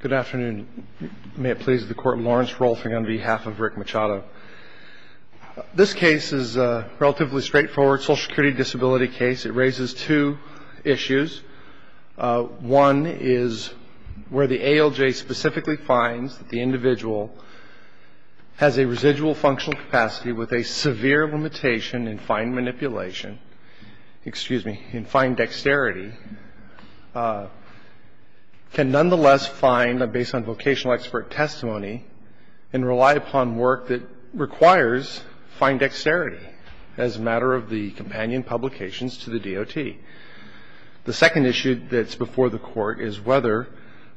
Good afternoon. May it please the court, Lawrence Rolfing on behalf of Rick Machado. This case is a relatively straightforward social security disability case. It raises two issues. One is where the ALJ specifically finds that the individual has a residual functional capacity with a severe limitation in fine manipulation, excuse me, in fine dexterity, can nonetheless find, based on vocational expert testimony, and rely upon work that requires fine dexterity as a matter of the companion publications to the DOT. The second issue that's before the court is whether,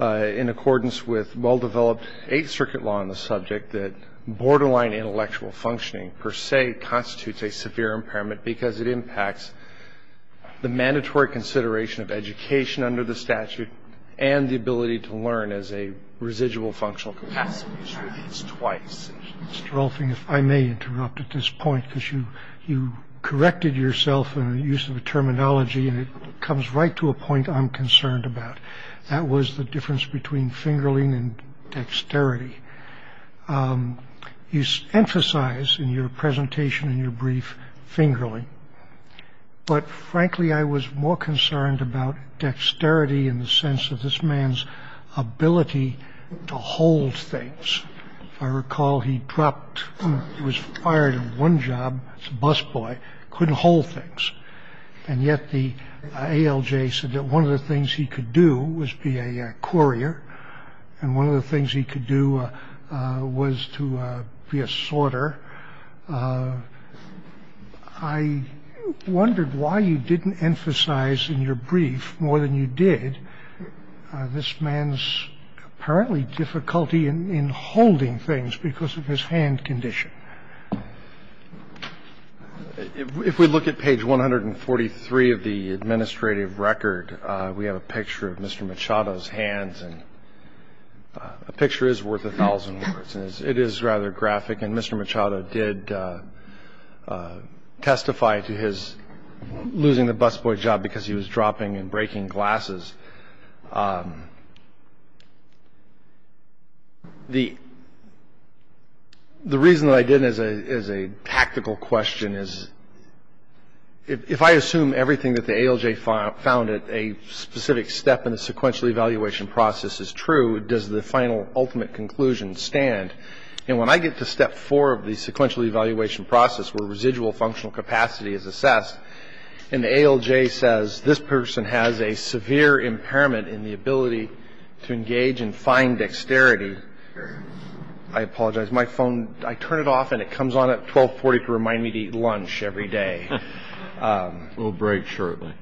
in accordance with well-developed Eighth Circuit law on the subject, that borderline intellectual functioning per se constitutes a severe impairment because it impacts the mandatory consideration of education under the statute and the ability to learn as a residual functional capacity. It's twice. Mr. Rolfing, if I may interrupt at this point, because you corrected yourself in the use of the terminology, and it comes right to a point I'm concerned about. That was the difference between fingerling and dexterity. You emphasized in your presentation, in your brief, fingerling. But, frankly, I was more concerned about dexterity in the sense of this man's ability to hold things. If I recall, he was fired in one job as a busboy, couldn't hold things. And yet the ALJ said that one of the things he could do was be a courier, and one of the things he could do was to be a sorter. I wondered why you didn't emphasize in your brief, more than you did, this man's apparently difficulty in holding things because of his hand condition. If we look at page 143 of the administrative record, we have a picture of Mr. Machado's hands. A picture is worth a thousand words. It is rather graphic. And Mr. Machado did testify to his losing the busboy job because he was dropping and breaking glasses. The reason that I did it as a tactical question is if I assume everything that the ALJ found at a specific step in the sequential evaluation process is true, does the final, ultimate conclusion stand? And when I get to step four of the sequential evaluation process where residual functional capacity is assessed, and the ALJ says this person has a severe impairment in the ability to engage in fine dexterity, I apologize, my phone, I turn it off and it comes on at 1240 to remind me to eat lunch every day. We'll break shortly.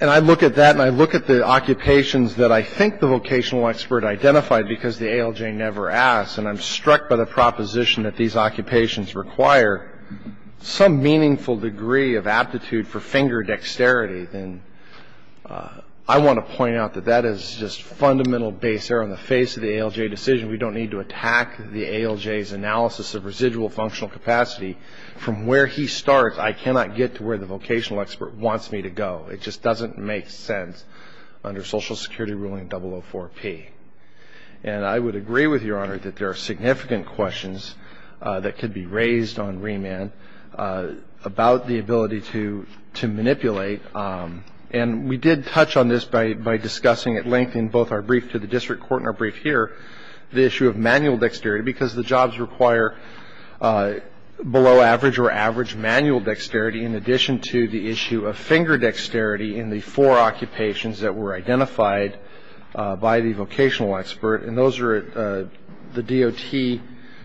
And I look at that and I look at the occupations that I think the vocational expert identified because the ALJ never asked, and I'm struck by the proposition that these occupations require some meaningful degree of aptitude for finger dexterity. And I want to point out that that is just fundamental base error on the face of the ALJ decision. We don't need to attack the ALJ's analysis of residual functional capacity. From where he starts, I cannot get to where the vocational expert wants me to go. It just doesn't make sense under Social Security ruling 004-P. And I would agree with Your Honor that there are significant questions that could be raised on remand about the ability to manipulate. And we did touch on this by discussing at length in both our brief to the district court and our brief here, the issue of manual dexterity because the jobs require below average or average manual dexterity in addition to the issue of finger dexterity in the four occupations that were identified by the vocational expert. And those are at the DOT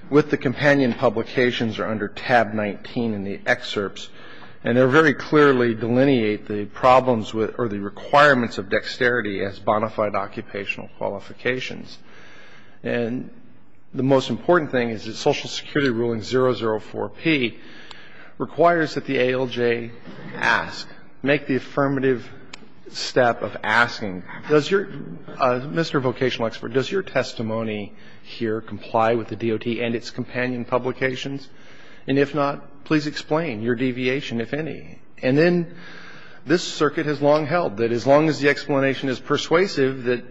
with the companion publications or under tab 19 in the excerpts. And they very clearly delineate the problems or the requirements of dexterity as bona fide occupational qualifications. And the most important thing is that Social Security ruling 004-P requires that the ALJ ask, make the affirmative step of asking, does your Mr. Vocational Expert, does your testimony here comply with the DOT and its companion publications? And if not, please explain your deviation, if any. And then this circuit has long held that as long as the explanation is persuasive, that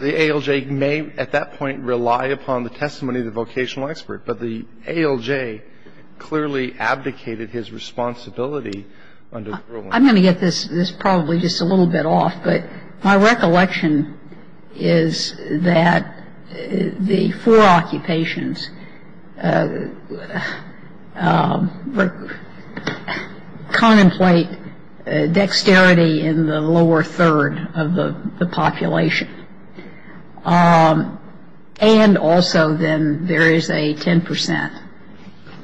the ALJ may at that point rely upon the testimony of the vocational expert. But the ALJ clearly abdicated his responsibility under the ruling. I'm going to get this probably just a little bit off, but my recollection is that the four occupations contemplate dexterity in the lower third of the population. And also then there is a 10 percent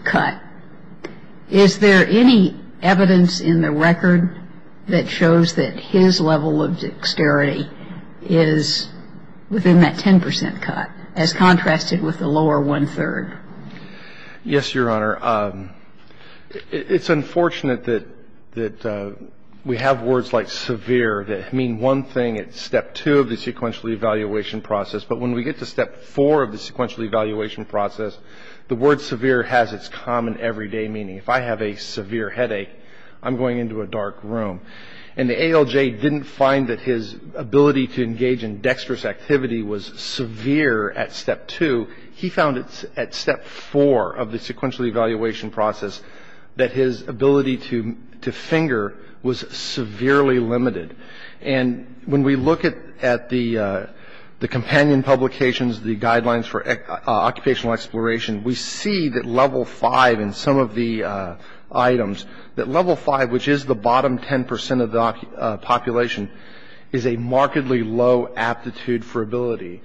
cut. Is there any evidence in the record that shows that his level of dexterity is within that 10 percent cut, as contrasted with the lower one third? Yes, Your Honor. It's unfortunate that we have words like severe that mean one thing at step two of the sequential evaluation process. But when we get to step four of the sequential evaluation process, the word severe has its common everyday meaning. If I have a severe headache, I'm going into a dark room. And the ALJ didn't find that his ability to engage in dexterous activity was severe at step two. He found at step four of the sequential evaluation process that his ability to finger was severely limited. And when we look at the companion publications, the guidelines for occupational exploration, we see that level five in some of the items, that level five, which is the bottom 10 percent of the population, is a markedly low aptitude for ability.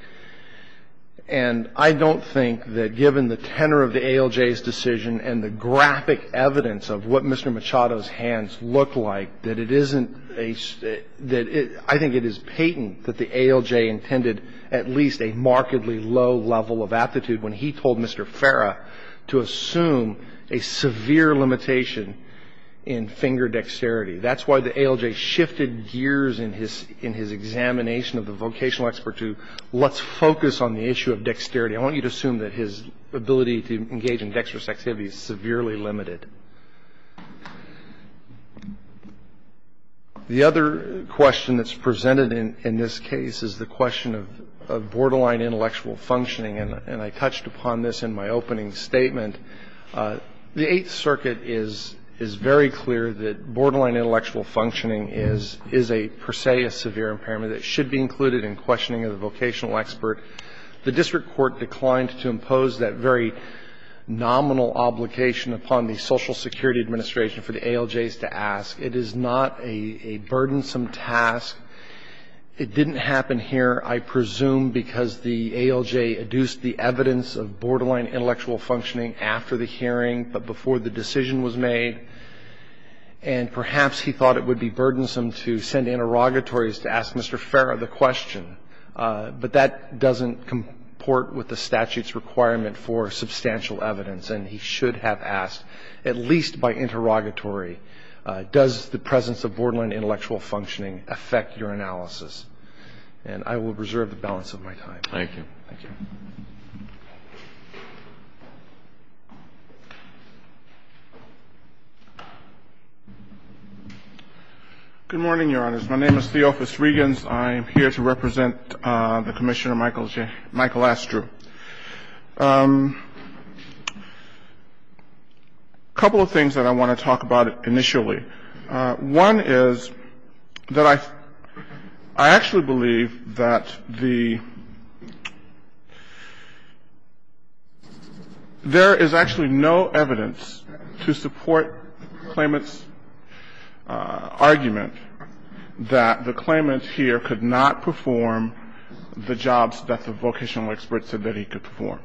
And I don't think that given the tenor of the ALJ's decision and the graphic evidence of what Mr. Machado's hands look like, that I think it is patent that the ALJ intended at least a markedly low level of aptitude when he told Mr. Farah to assume a severe limitation in finger dexterity. That's why the ALJ shifted gears in his examination of the vocational expert to let's focus on the issue of dexterity. I want you to assume that his ability to engage in dexterous activity is severely limited. The other question that's presented in this case is the question of borderline intellectual functioning. And I touched upon this in my opening statement. The Eighth Circuit is very clear that borderline intellectual functioning is a, per se, a severe impairment that should be included in questioning of the vocational expert. The district court declined to impose that very nominal obligation upon the Social Security Administration for the ALJs to ask. It is not a burdensome task. It didn't happen here, I presume, because the ALJ adduced the evidence of borderline intellectual functioning after the hearing but before the decision was made, and perhaps he thought it would be burdensome to send interrogatories to ask Mr. Farah the question. But that doesn't comport with the statute's requirement for substantial evidence, and he should have asked, at least by interrogatory, does the presence of borderline intellectual functioning affect your analysis? And I will reserve the balance of my time. Thank you. Thank you. Good morning, Your Honors. My name is Theophis Regans. I am here to represent the Commissioner, Michael Astrew. A couple of things that I want to talk about initially. One is that I actually believe that the — there is actually no evidence to support claimant's argument that the claimant here could not perform the jobs that the vocational expert said that he could perform.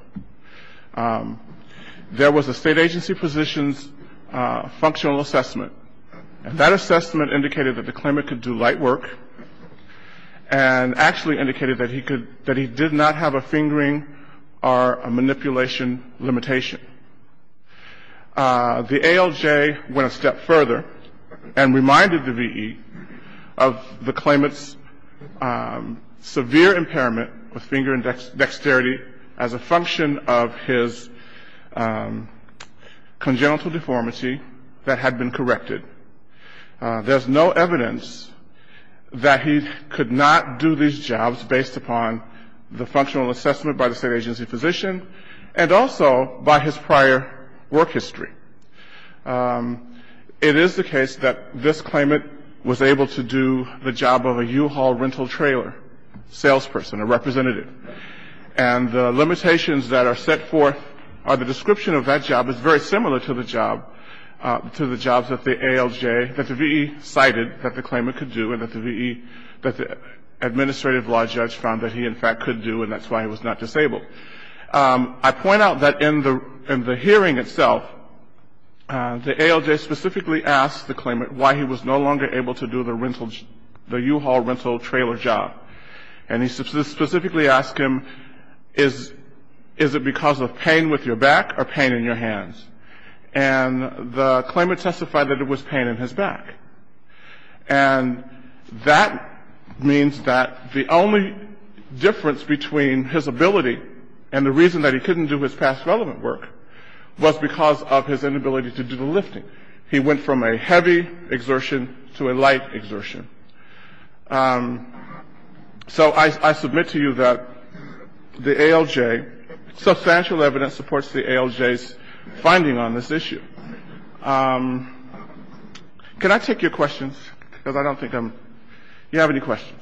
There was a State agency position's functional assessment, and that assessment indicated that the claimant could do light work and actually indicated that he could — that he did not have a fingering or a manipulation limitation. The ALJ went a step further and reminded the V.E. of the claimant's severe impairment with finger and dexterity as a function of his congenital deformity that had been corrected. There is no evidence that he could not do these jobs based upon the functional assessment by the State agency position and also by his prior work history. It is the case that this claimant was able to do the job of a U-Haul rental trailer salesperson, a representative. And the limitations that are set forth are the description of that job is very similar to the job — to the jobs that the ALJ — that the V.E. cited that the claimant could do and that the V.E. — that the administrative law judge found that he, in fact, could do and that's why he was not disabled. I point out that in the — in the hearing itself, the ALJ specifically asked the claimant why he was no longer able to do the rental — the U-Haul rental trailer job. And he specifically asked him, is — is it because of pain with your back or pain in your hands? And the claimant testified that it was pain in his back. And that means that the only difference between his ability and the reason that he couldn't do his past relevant work was because of his inability to do the lifting. He went from a heavy exertion to a light exertion. So I — I submit to you that the ALJ — substantial evidence supports the ALJ's finding on this issue. Can I take your questions? Because I don't think I'm — do you have any questions?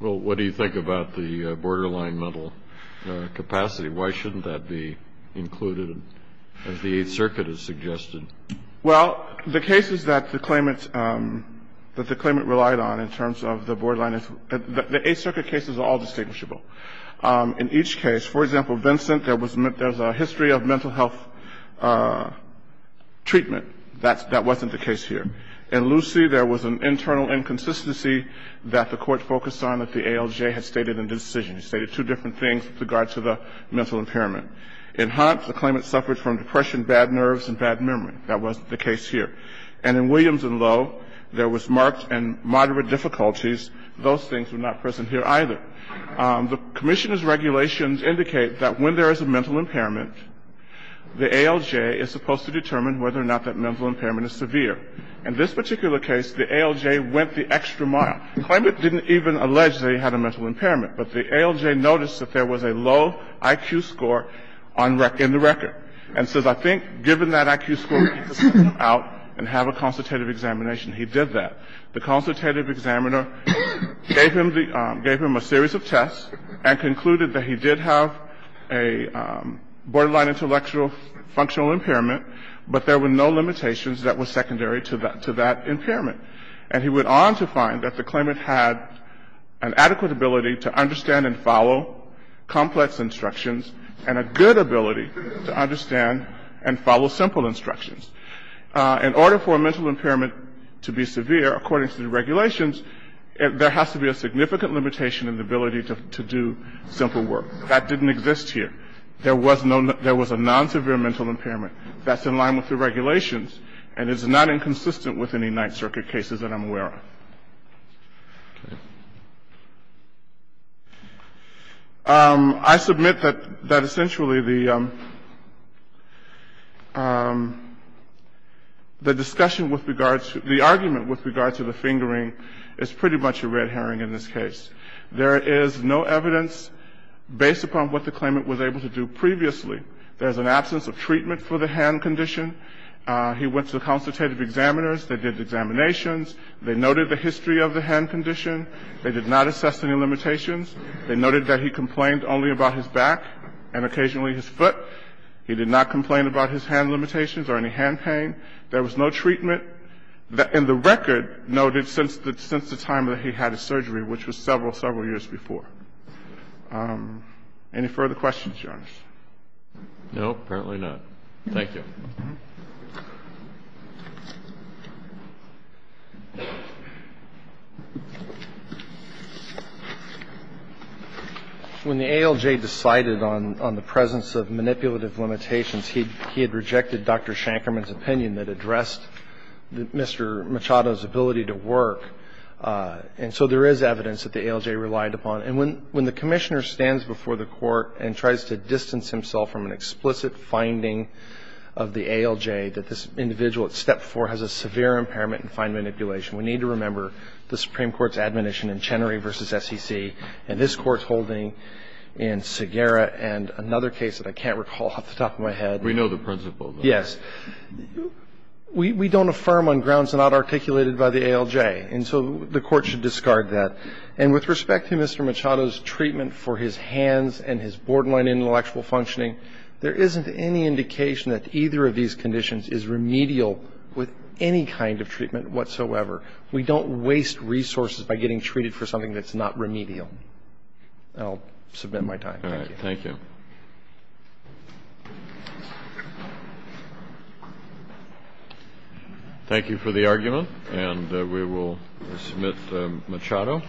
Well, what do you think about the borderline mental capacity? Why shouldn't that be included as the Eighth Circuit has suggested? Well, the cases that the claimant — that the claimant relied on in terms of the borderline — the Eighth Circuit cases are all distinguishable. In each case, for example, Vincent, there was a — there's a history of mental health treatment. That's — that wasn't the case here. In Lucy, there was an internal inconsistency that the Court focused on that the ALJ had stated in the decision. It stated two different things with regard to the mental impairment. In Hunt, the claimant suffered from depression, bad nerves, and bad memory. That wasn't the case here. And in Williams and Lowe, there was marked and moderate difficulties. Those things were not present here either. The commissioners' regulations indicate that when there is a mental impairment, the ALJ is supposed to determine whether or not that mental impairment is severe. In this particular case, the ALJ went the extra mile. The claimant didn't even allege that he had a mental impairment, but the ALJ noticed that there was a low IQ score on — in the record and says, I think, given that IQ score, we need to send him out and have a consultative examination. He did that. The consultative examiner gave him the — gave him a series of tests and concluded that he did have a borderline intellectual functional impairment, but there were no limitations that were secondary to that — to that impairment. And he went on to find that the claimant had an adequate ability to understand and follow complex instructions and a good ability to understand and follow simple instructions. In order for a mental impairment to be severe, according to the regulations, there has to be a significant limitation in the ability to do simple work. That didn't exist here. There was no — there was a non-severe mental impairment. That's in line with the regulations and is not inconsistent with any Ninth Circuit cases that I'm aware of. Okay. I submit that — that essentially the — the discussion with regard to — the argument with regard to the fingering is pretty much a red herring in this case. There is no evidence based upon what the claimant was able to do previously. There's an absence of treatment for the hand condition. He went to the consultative examiners. They did examinations. They noted the history of the hand condition. They did not assess any limitations. They noted that he complained only about his back and occasionally his foot. He did not complain about his hand limitations or any hand pain. There was no treatment. And the record noted since the time that he had his surgery, which was several, several years before. Any further questions, Your Honor? No, apparently not. Thank you. When the ALJ decided on the presence of manipulative limitations, he had rejected Dr. Shankerman's opinion that addressed Mr. Machado's ability to work, and so there is evidence that the ALJ relied upon. And when the Commissioner stands before the Court and tries to distance himself from an explicit finding of the ALJ that this individual at step four has a severe impairment in fine manipulation, we need to remember the Supreme Court's admonition in Chenery v. SEC and this Court's holding in Segera and another case that I can't recall off the top of my head. We know the principle. Yes. We don't affirm on grounds not articulated by the ALJ, and so the Court should discard that. And with respect to Mr. Machado's treatment for his hands and his borderline intellectual functioning, there isn't any indication that either of these conditions is remedial with any kind of treatment whatsoever. We don't waste resources by getting treated for something that's not remedial. And I'll submit my time. Thank you. Thank you for the argument, and we will submit Machado.